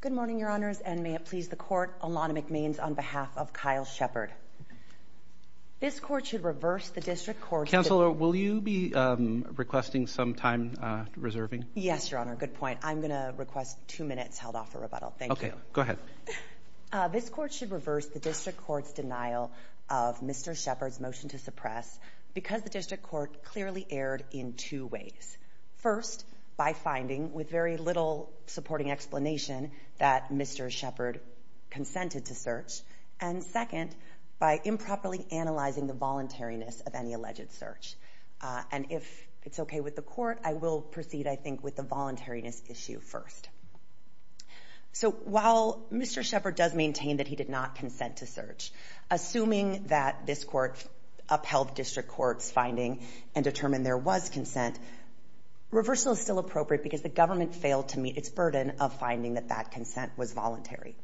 Good morning, Your Honors, and may it please the Court, Alana McMains on behalf of Kyle Shephard. This Court should reverse the District Court's... Counselor, will you be requesting some time reserving? Yes, Your Honor, good point. I'm gonna request two minutes held off for rebuttal. Thank you. Okay, go ahead. This Court should reverse the District Court's denial of Mr. Shephard's motion to suppress because the District Court clearly erred in two ways. First, by finding, with very little supporting explanation, that Mr. Shephard consented to search. And second, by improperly analyzing the voluntariness of any alleged search. And if it's okay with the Court, I will proceed, I think, with the voluntariness issue first. So while Mr. Shephard does maintain that he did not consent to search, assuming that this Court upheld District Court's finding and determined there was consent, reversal is still appropriate because the government failed to meet its burden of finding that that consent was voluntary.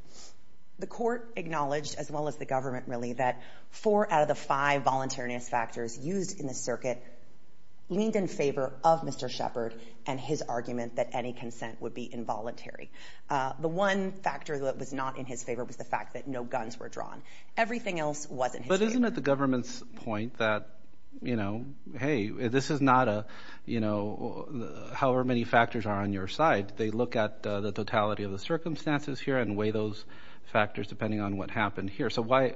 The Court acknowledged, as well as the government, really, that four out of the five voluntariness factors used in the circuit leaned in favor of Mr. Shephard and his argument that any consent would be involuntary. The one factor that was not in his favor was the fact that no guns were drawn. Everything else wasn't. But isn't it the government's point that, you know, hey, this is not a, you know, however many factors are on your side. They look at the totality of the circumstances here and weigh those factors depending on what happened here. So why,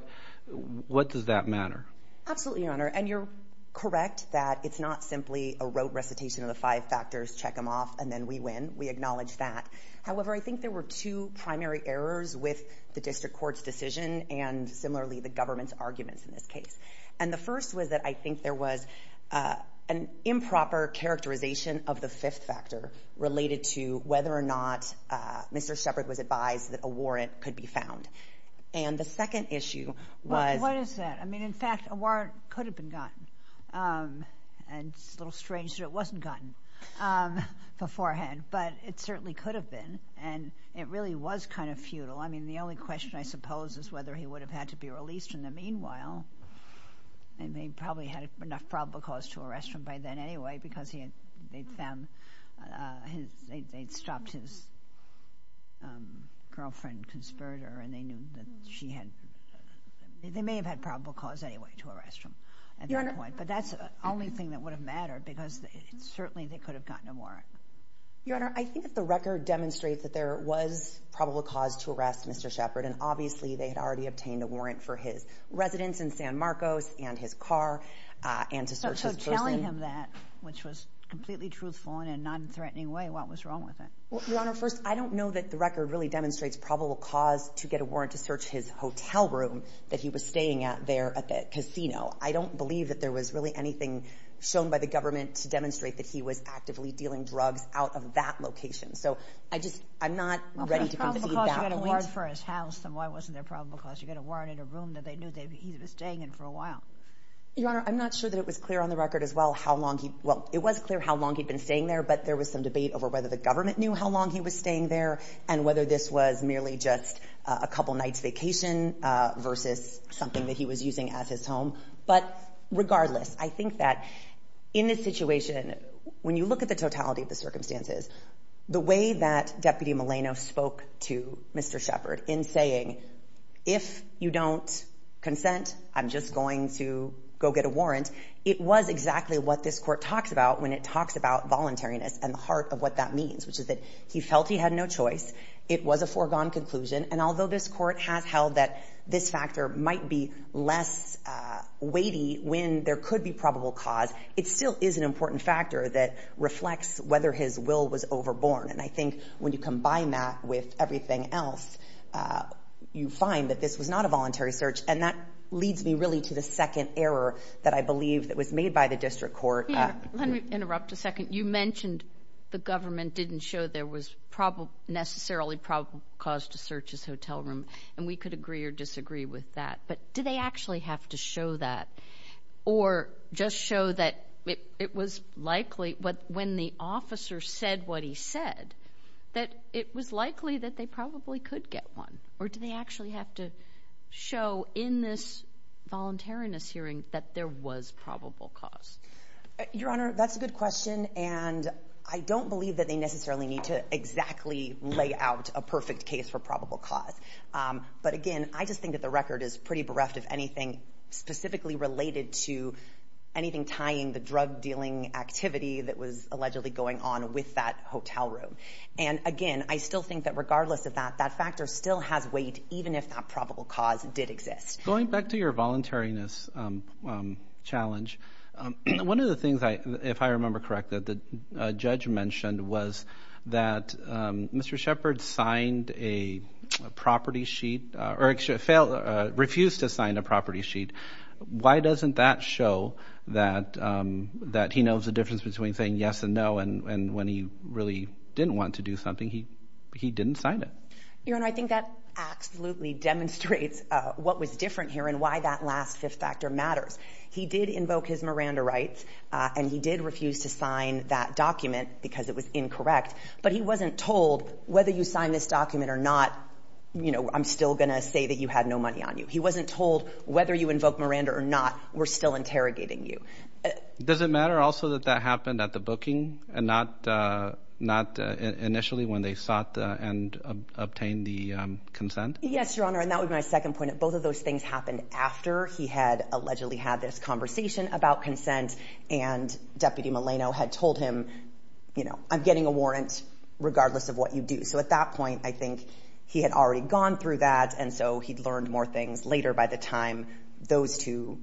what does that matter? Absolutely, Your Honor. And you're correct that it's not simply a rote recitation of the five factors, check them off, and then we win. We acknowledge that. However, I think there were two primary errors with the District Court's and similarly the government's arguments in this case. And the first was that I think there was an improper characterization of the fifth factor related to whether or not Mr. Shephard was advised that a warrant could be found. And the second issue was... What is that? I mean, in fact, a warrant could have been gotten. And it's a little strange that it wasn't gotten beforehand. But it certainly could have been. And it really was kind of futile. I mean, the only question, I suppose, is whether he would have had to be released in the meanwhile. And they probably had enough probable cause to arrest him by then anyway, because they'd found, they'd stopped his girlfriend, conspirator, and they knew that she had, they may have had probable cause anyway to arrest him at that point. But that's the only thing that would have mattered, because certainly they could have gotten a warrant. Your Honor, I think that the record demonstrates that there was probable cause to arrest Mr. Shephard. And obviously, they had already obtained a warrant for his residence in San Marcos and his car and to search his person. So telling him that, which was completely truthful and in a non-threatening way, what was wrong with it? Well, Your Honor, first, I don't know that the record really demonstrates probable cause to get a warrant to search his hotel room that he was staying at there at the casino. I don't believe that there was really anything shown by the out of that location. So I just, I'm not ready to concede that point. Well, if there was probable cause to get a warrant for his house, then why wasn't there probable cause to get a warrant in a room that they knew that he was staying in for a while? Your Honor, I'm not sure that it was clear on the record as well how long he, well, it was clear how long he'd been staying there, but there was some debate over whether the government knew how long he was staying there and whether this was merely just a couple nights' vacation versus something that he was using as his home. But regardless, I think that in this situation, when you look at the circumstances, the way that Deputy Maleno spoke to Mr. Shepard in saying, if you don't consent, I'm just going to go get a warrant, it was exactly what this court talks about when it talks about voluntariness and the heart of what that means, which is that he felt he had no choice. It was a foregone conclusion. And although this court has held that this factor might be less weighty when there could be probable cause, it still is an important factor that reflects whether his will was overborne. And I think when you combine that with everything else, you find that this was not a voluntary search. And that leads me really to the second error that I believe that was made by the district court. Yeah, let me interrupt a second. You mentioned the government didn't show there was necessarily probable cause to search his hotel room, and we could agree or disagree with that. But do they actually have to show that or just that it was likely when the officer said what he said, that it was likely that they probably could get one? Or do they actually have to show in this voluntariness hearing that there was probable cause? Your Honor, that's a good question, and I don't believe that they necessarily need to exactly lay out a perfect case for probable cause. But again, I just think that the record is pretty bereft of anything specifically related to anything tying the drug dealing activity that was allegedly going on with that hotel room. And again, I still think that regardless of that, that factor still has weight, even if that probable cause did exist. Going back to your voluntariness challenge, one of the things, if I remember correctly, that the judge mentioned was that Mr. Shepard refused to sign a property sheet. Why doesn't that show that he knows the difference between saying yes and no, and when he really didn't want to do something, he didn't sign it? Your Honor, I think that absolutely demonstrates what was different here and why that last fifth factor matters. He did invoke his Miranda rights, and he did refuse to sign that document because it was incorrect. But he wasn't told whether you sign this document or not, I'm still going to say that you had no money on you. He wasn't told whether you invoke Miranda or not, we're still interrogating you. Does it matter also that that happened at the booking and not initially when they sought and obtained the consent? Yes, Your Honor, and that would be my second point. Both of those things happened after he had allegedly had this conversation about consent and Deputy regardless of what you do. So at that point, I think he had already gone through that, and so he'd learned more things later by the time those two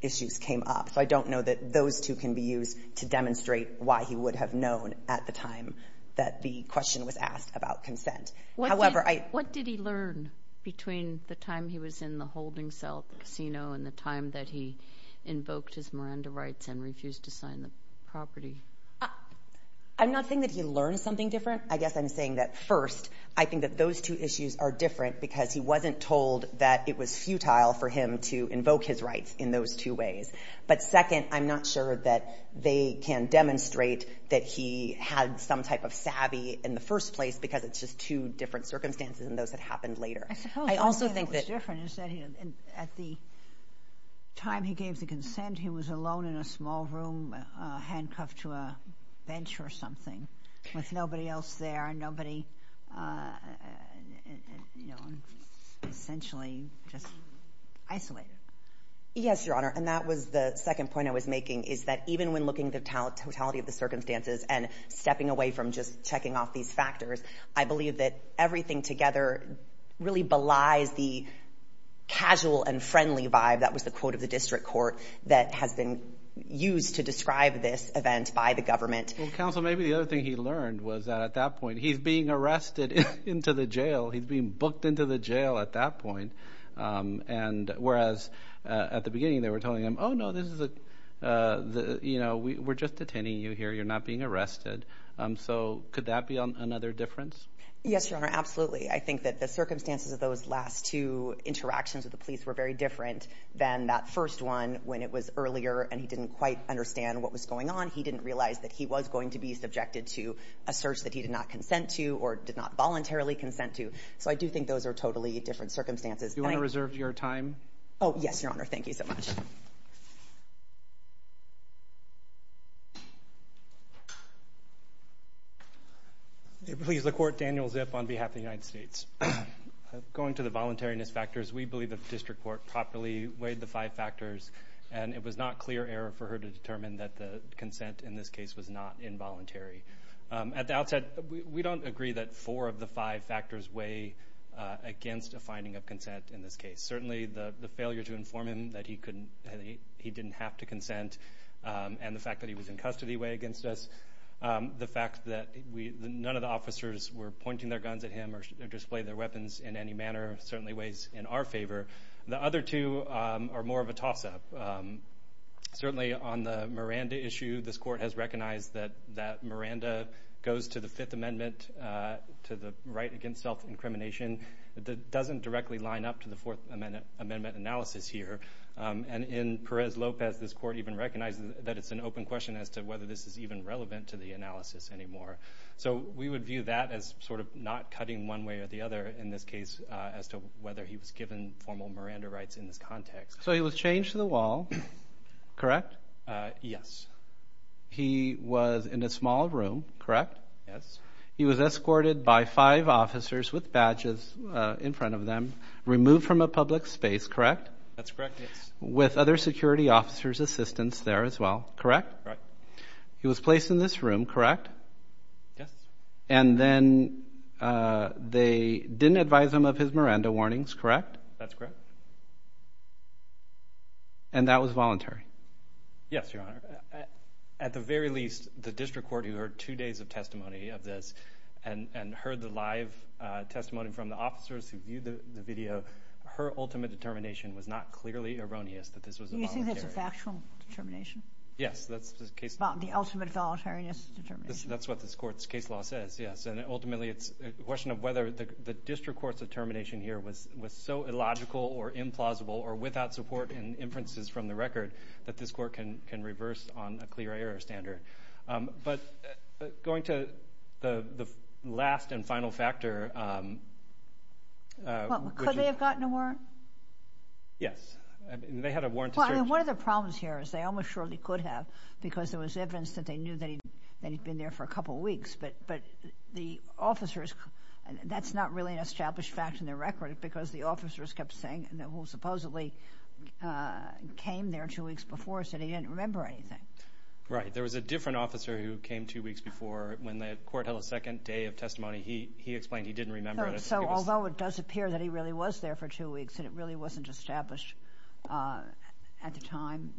issues came up. So I don't know that those two can be used to demonstrate why he would have known at the time that the question was asked about consent. What did he learn between the time he was in the holding cell casino and the time that he invoked his Miranda rights and refused to sign the property? I'm not saying that he learned something different. I guess I'm saying that first, I think that those two issues are different because he wasn't told that it was futile for him to invoke his rights in those two ways. But second, I'm not sure that they can demonstrate that he had some type of savvy in the first place because it's just two different circumstances than those that happened later. I suppose the thing that was different is that at the time he gave the bench or something with nobody else there and nobody essentially just isolated. Yes, Your Honor, and that was the second point I was making, is that even when looking at the totality of the circumstances and stepping away from just checking off these factors, I believe that everything together really belies the casual and friendly vibe, that was the quote of the district court that has been used to describe this event by the government. Counsel, maybe the other thing he learned was that at that point he's being arrested into the jail. He's being booked into the jail at that point. And whereas at the beginning they were telling him, oh no, this is a, you know, we're just detaining you here. You're not being arrested. So could that be another difference? Yes, Your Honor, absolutely. I think that the circumstances of those last two interactions with the police were very different than that first one when it was earlier and he didn't quite understand what was going on. He didn't realize that he was going to be subjected to a search that he did not consent to or did not voluntarily consent to. So I do think those are totally different circumstances. Do you want to reserve your time? Oh, yes, Your Honor. Thank you so much. Please, the court, Daniel Zip on behalf of the United States. Going to the voluntariness factors, we believe the district court properly weighed the five factors and it was not clear error for her to determine that the consent in this case was not involuntary. At the outset, we don't agree that four of the five factors weigh against a finding of consent in this case. Certainly the failure to inform him that he didn't have to consent and the fact that he was in custody weigh against us. The fact that none of the officers were pointing their guns at him or display their weapons in any manner certainly weighs in our favor. The other two are more of a toss-up. Certainly on the Miranda issue, this court has recognized that that Miranda goes to the Fifth Amendment to the right against self-incrimination. It doesn't directly line up to the Fourth Amendment analysis here. And in Perez-Lopez, this court even recognizes that it's an open question as to whether this is even relevant to the analysis anymore. So we would view that as sort of not cutting one way or the other in this case as to whether he was given formal Miranda rights in this context. So he was changed to the wall, correct? Yes. He was in a small room, correct? Yes. He was escorted by five officers with badges in front of them, removed from a public space, correct? That's correct, yes. With other security officers' assistance there as well, correct? Correct. He was placed in this room, correct? Yes. And then they didn't advise him of his Miranda warnings, correct? That's correct. And that was voluntary? Yes, Your Honor. At the very least, the district court who heard two days of testimony of this and heard the live testimony from the officers who viewed the video, her ultimate determination was not clearly erroneous that this was a voluntary. Do you think that's a factual determination? Yes, that's the case. The ultimate voluntariness determination. That's what this court's case law says, yes. And ultimately, it's a question of whether the district court's determination here was so illogical or implausible or without support and inferences from the record that this court can reverse on a clear error standard. But going to the last and final factor... Could they have gotten a warrant? Yes. They had a warrant to search... One of the problems here is they almost surely could have because there was evidence that they knew that he'd been there for a couple of weeks. But the officers... That's not really an established fact in their record because the officers kept saying that he supposedly came there two weeks before and said he didn't remember anything. Right. There was a different officer who came two weeks before when the court held a second day of testimony. He explained he didn't remember it. So although it does appear that he really was there for two weeks and it really wasn't established at the time...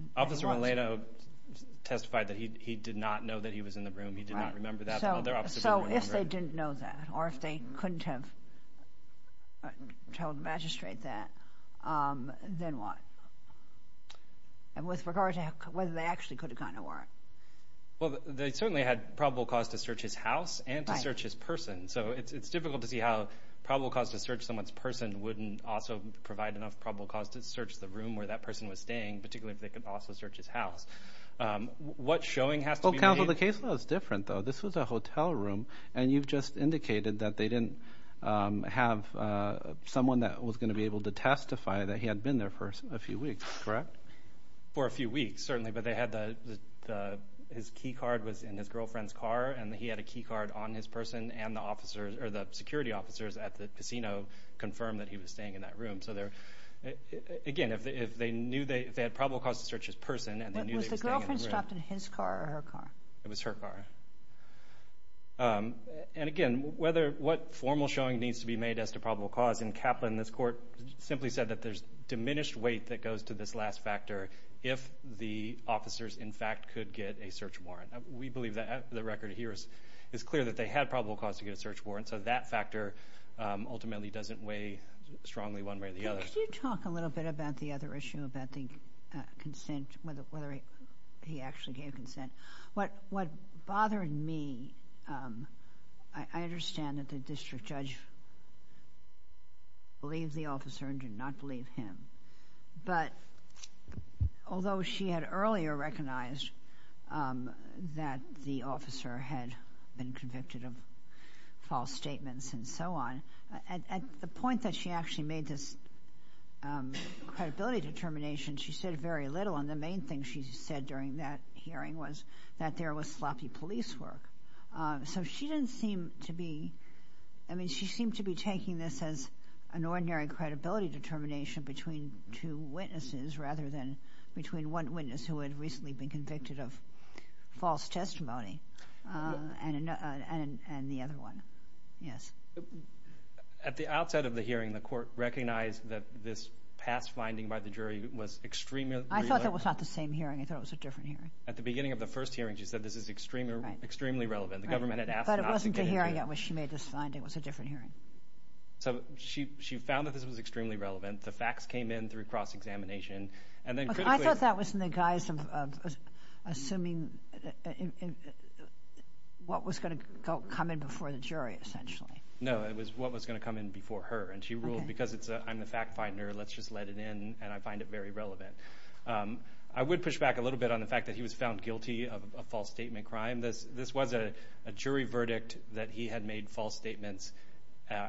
Testified that he did not know that he was in the room. He did not remember that. So if they didn't know that or if they couldn't have told the magistrate that, then what? And with regard to whether they actually could have gotten a warrant? Well, they certainly had probable cause to search his house and to search his person. So it's difficult to see how probable cause to search someone's person wouldn't also provide enough probable cause to search the room where that person was staying, particularly if they could also search his house. What showing has to be made... Counsel, the case was different though. This was a hotel room and you've just indicated that they didn't have someone that was going to be able to testify that he had been there for a few weeks, correct? For a few weeks, certainly. But his key card was in his girlfriend's car and he had a key card on his person and the security officers at the casino confirmed that he was staying in that room. So again, if they knew they had probable cause to search his person... But was the girlfriend stopped in his car or her car? It was her car. And again, what formal showing needs to be made as to probable cause? In Kaplan, this court simply said that there's diminished weight that goes to this last factor if the officers, in fact, could get a search warrant. We believe that the record here is clear that they had probable cause to get a search warrant. So that factor ultimately doesn't weigh strongly one way or the other. Can you talk a little bit about the other issue about the consent, whether he actually gave consent? What bothered me, I understand that the district judge believed the officer and did not believe him. But although she had earlier recognized that the officer had been convicted of false statements and so on, at the point that she actually made this credibility determination, she said very little. And the main thing she said during that hearing was that there was sloppy police work. So she didn't seem to be, I mean, she seemed to be taking this as an ordinary credibility determination between two witnesses rather than between one witness who had recently been convicted of false testimony and the other one. At the outset of the hearing, the court recognized that this past finding by the jury was extremely relevant. I thought that was not the same hearing. I thought it was a different hearing. At the beginning of the first hearing, she said this is extremely relevant. The government had asked not to get into it. But it wasn't the hearing at which she made this finding. It was a different hearing. So she found that this was extremely relevant. The facts came in through cross-examination. And then critically... I thought that was in the guise of assuming what was going to come in before the jury, essentially. No, it was what was going to come in before her. And she ruled, because I'm the fact finder, let's just let it in. And I find it very relevant. I would push back a little bit on the fact that he was found guilty of a false statement crime. This was a jury verdict that he had made false statements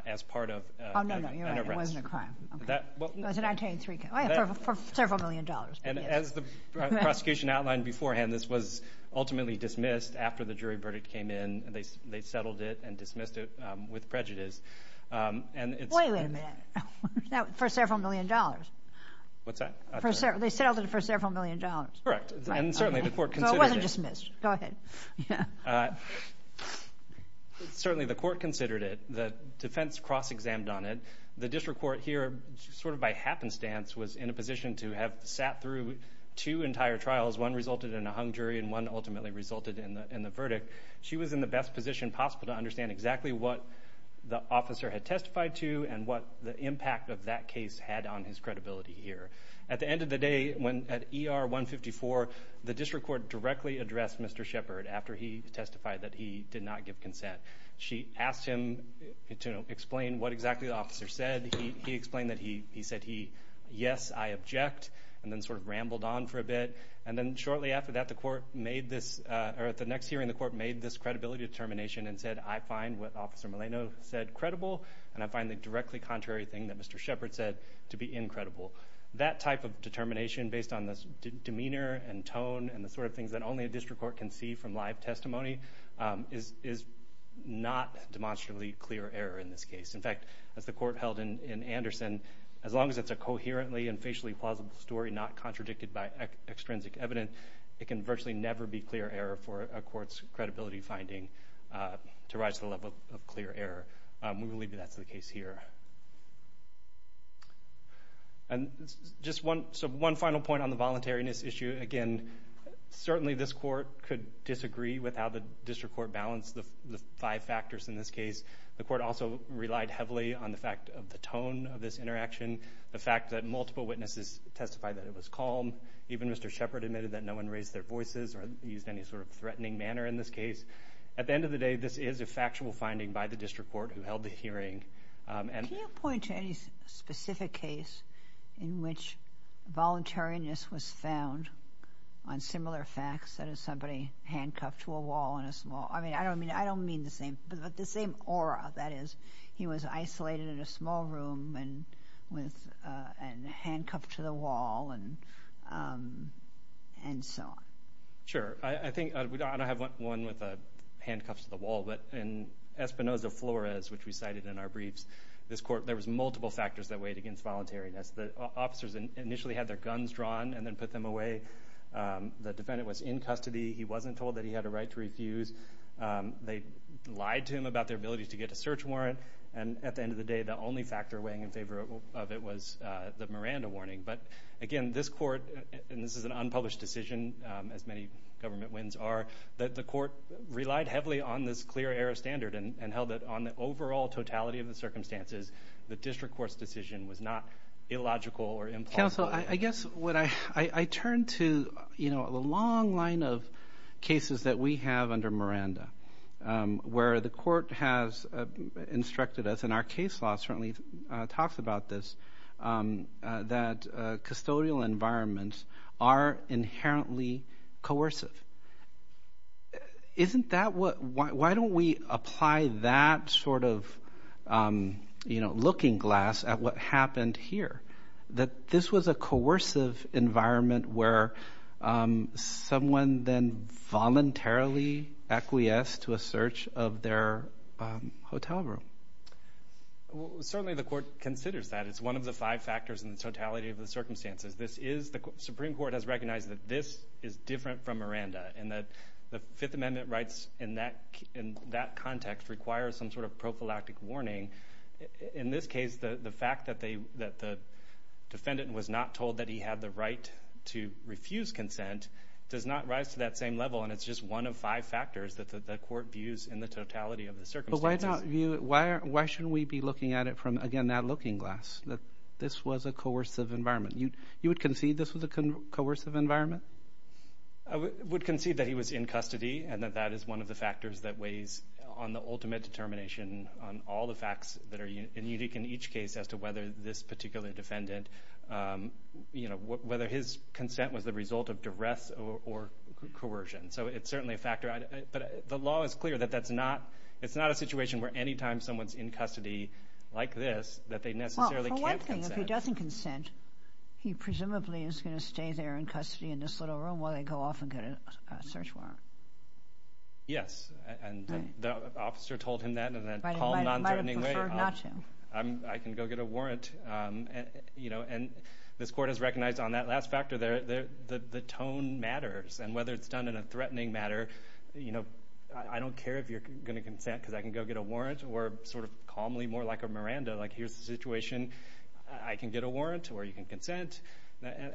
as part of an arrest. Oh, no, no, you're right. It wasn't a crime. It was a 1993 crime. Oh, yeah, for several million dollars. And as the prosecution outlined beforehand, this was ultimately dismissed after the jury verdict came in. They settled it and dismissed it with prejudice. Wait a minute. For several million dollars. What's that? They settled it for several million dollars. Correct. And certainly, the court considered it. So it wasn't dismissed. Go ahead. Uh, certainly the court considered it. The defense cross-examined on it. The district court here, sort of by happenstance, was in a position to have sat through two entire trials. One resulted in a hung jury and one ultimately resulted in the verdict. She was in the best position possible to understand exactly what the officer had testified to and what the impact of that case had on his credibility here. At the end of the day, at ER 154, the district court directly addressed Mr. Shepard after he testified that he did not give consent. She asked him to explain what exactly the officer said. He explained that he said, yes, I object, and then sort of rambled on for a bit. And then shortly after that, the court made this, or at the next hearing, the court made this credibility determination and said, I find what Officer Maleno said credible, and I find the directly contrary thing that Mr. Shepard said to be incredible. That type of determination based on this demeanor and tone and the sort of things that only a district court can see from live testimony is not demonstrably clear error in this case. In fact, as the court held in Anderson, as long as it's a coherently and facially plausible story not contradicted by extrinsic evidence, it can virtually never be clear error for a court's credibility finding to rise to the level of clear error. We will leave that to the case here. And just one final point on the voluntariness issue. Again, certainly this court could disagree with how the district court balanced the five factors in this case. The court also relied heavily on the fact of the tone of this interaction, the fact that multiple witnesses testified that it was calm. Even Mr. Shepard admitted that no one raised their voices or used any sort of threatening manner in this case. At the end of the day, this is a factual finding by the district court who held the hearing. Can you point to any specific case in which voluntariness was found on similar facts, that is somebody handcuffed to a wall in a small, I mean, I don't mean the same, but the same aura that is. He was isolated in a small room and handcuffed to the wall and so on. Sure. I think, I don't have one with a handcuffs to the wall, but in Espinosa Flores, which we cited in our briefs, this court, there was multiple factors that weighed against voluntariness. The officers initially had their guns drawn and then put them away. The defendant was in custody. He wasn't told that he had a right to refuse. They lied to him about their ability to get a search warrant. And at the end of the day, the only factor weighing in favor of it was the Miranda warning. But again, this court, and this is an unpublished decision, as many government wins are, that the court relied heavily on this clear error standard and held it on the overall totality of the circumstances. The district court's decision was not illogical or implausible. Counsel, I guess what I, I turn to, you know, the long line of cases that we have under Miranda, where the court has instructed us, and our case law certainly talks about this, that custodial environments are inherently coercive. Isn't that what, why don't we apply that sort of, you know, looking glass at what happened here? That this was a coercive environment where someone then voluntarily acquiesced to a search of their hotel room. Certainly the court considers that. It's one of the five factors in the totality of the circumstances. This is, the Supreme Court has recognized that this is different from Miranda, and that the Fifth Amendment rights in that, in that context require some sort of prophylactic warning. In this case, the fact that they, that the defendant was not told that he had the right to refuse consent does not rise to that same level, and it's just one of five factors that the court views in the totality of the circumstances. But why not view it, why, why shouldn't we be looking at it from, again, that looking glass? That this was a coercive environment. You, you would concede this was a coercive environment? I would concede that he was in custody, and that that is one of the factors that weighs on the ultimate determination on all the facts that are unique in each case as to whether this consent was the result of duress or, or coercion. So it's certainly a factor, but the law is clear that that's not, it's not a situation where anytime someone's in custody like this that they necessarily can't consent. Well, for one thing, if he doesn't consent, he presumably is going to stay there in custody in this little room while they go off and get a search warrant. Yes, and the officer told him that in a calm, nonthreatening way. Might have preferred recognized on that last factor there, the tone matters, and whether it's done in a threatening matter, you know, I don't care if you're going to consent because I can go get a warrant, or sort of calmly, more like a Miranda, like here's the situation, I can get a warrant, or you can consent.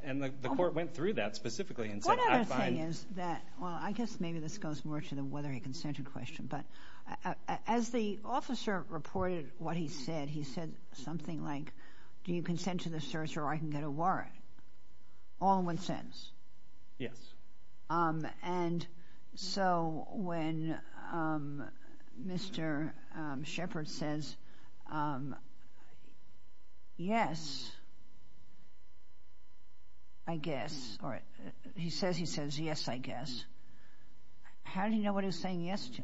And the court went through that specifically. One other thing is that, well, I guess maybe this goes more to the whether he consented question, but as the officer reported what he said, he said something like, do you consent to the search or I can get a warrant? All in one sentence. Yes. And so when Mr. Shepard says, yes, I guess, or he says he says, yes, I guess, how did he know what he was saying yes to?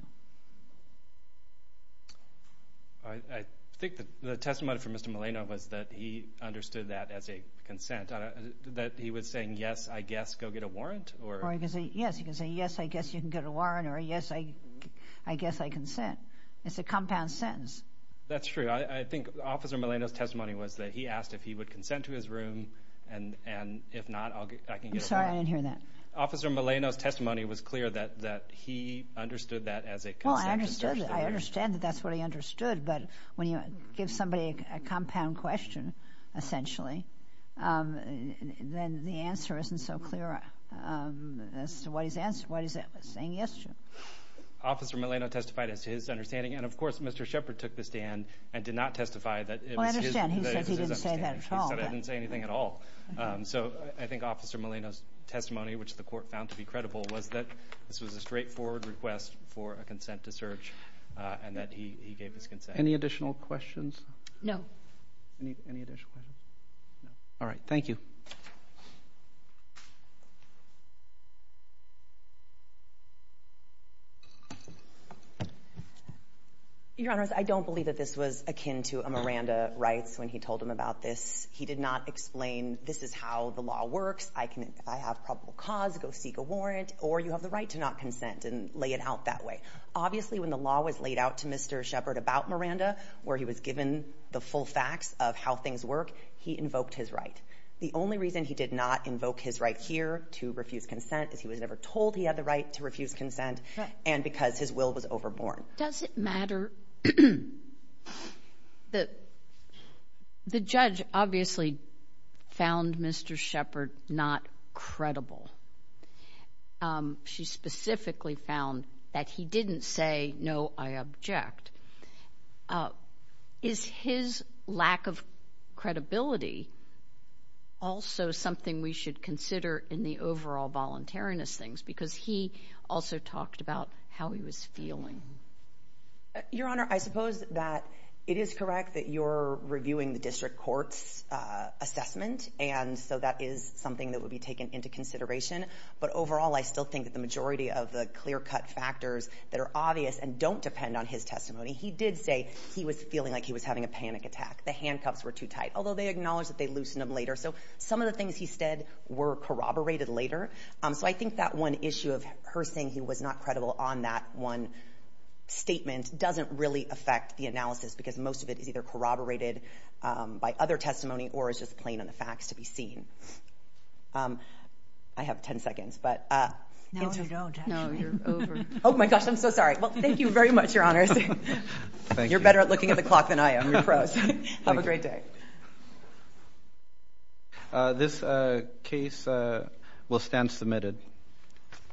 I think the testimony for Mr. Milano was that he understood that as a consent, that he was saying, yes, I guess, go get a warrant. Or he could say, yes, he could say, yes, I guess you can get a warrant, or yes, I guess I consent. It's a compound sentence. That's true. I think Officer Milano's testimony was that he asked if he would consent to his room, and if not, I can get a warrant. I'm sorry, I didn't hear that. Officer Milano's testimony was clear that he understood that as a consent. Well, I understood. I understand that that's what he understood, but when you give somebody a compound question, essentially, then the answer isn't so clear as to what he's saying yes to. Officer Milano testified as to his understanding, and of course, Mr. Shepard took the stand and did not testify that it was his understanding. Well, I understand. He said he didn't say that at all. He said I didn't say anything at all. So I think Officer Milano's testimony, which the court found to be credible, was that this was a straightforward request for a consent to search, and that he gave his consent. Any additional questions? No. Any additional questions? No. All right, thank you. Your Honors, I don't believe that this was akin to a Miranda rights when he told him about this he did not explain this is how the law works. I can, if I have probable cause, go seek a warrant, or you have the right to not consent and lay it out that way. Obviously, when the law was laid out to Mr. Shepard about Miranda, where he was given the full facts of how things work, he invoked his right. The only reason he did not invoke his right here to refuse consent is he was never told he had the right to refuse consent, and because his will was overborne. Does it matter that the judge obviously found Mr. Shepard not credible? She specifically found that he didn't say, no, I object. Is his lack of credibility also something we should consider in the overall voluntariness things? Because he also talked about how he was feeling. Your Honor, I suppose that it is correct that you're reviewing the district court's assessment, and so that is something that would be taken into consideration. But overall, I still think that the majority of the clear-cut factors that are obvious and don't depend on his testimony, he did say he was feeling like he was having a panic attack. The handcuffs were too tight, although they acknowledged that they loosened them later. So some of the things he said were corroborated later. So I think that one issue of her saying he was not credible on that one statement doesn't really affect the analysis, because most of it is either corroborated by other testimony or is just plain on the facts to be seen. I have 10 seconds, but... No, you don't. No, you're over. Oh my gosh, I'm so sorry. Well, thank you very much, Your Honors. Thank you. You're better at looking at the clock than I am. You're pros. Have a great day. This case will stand submitted.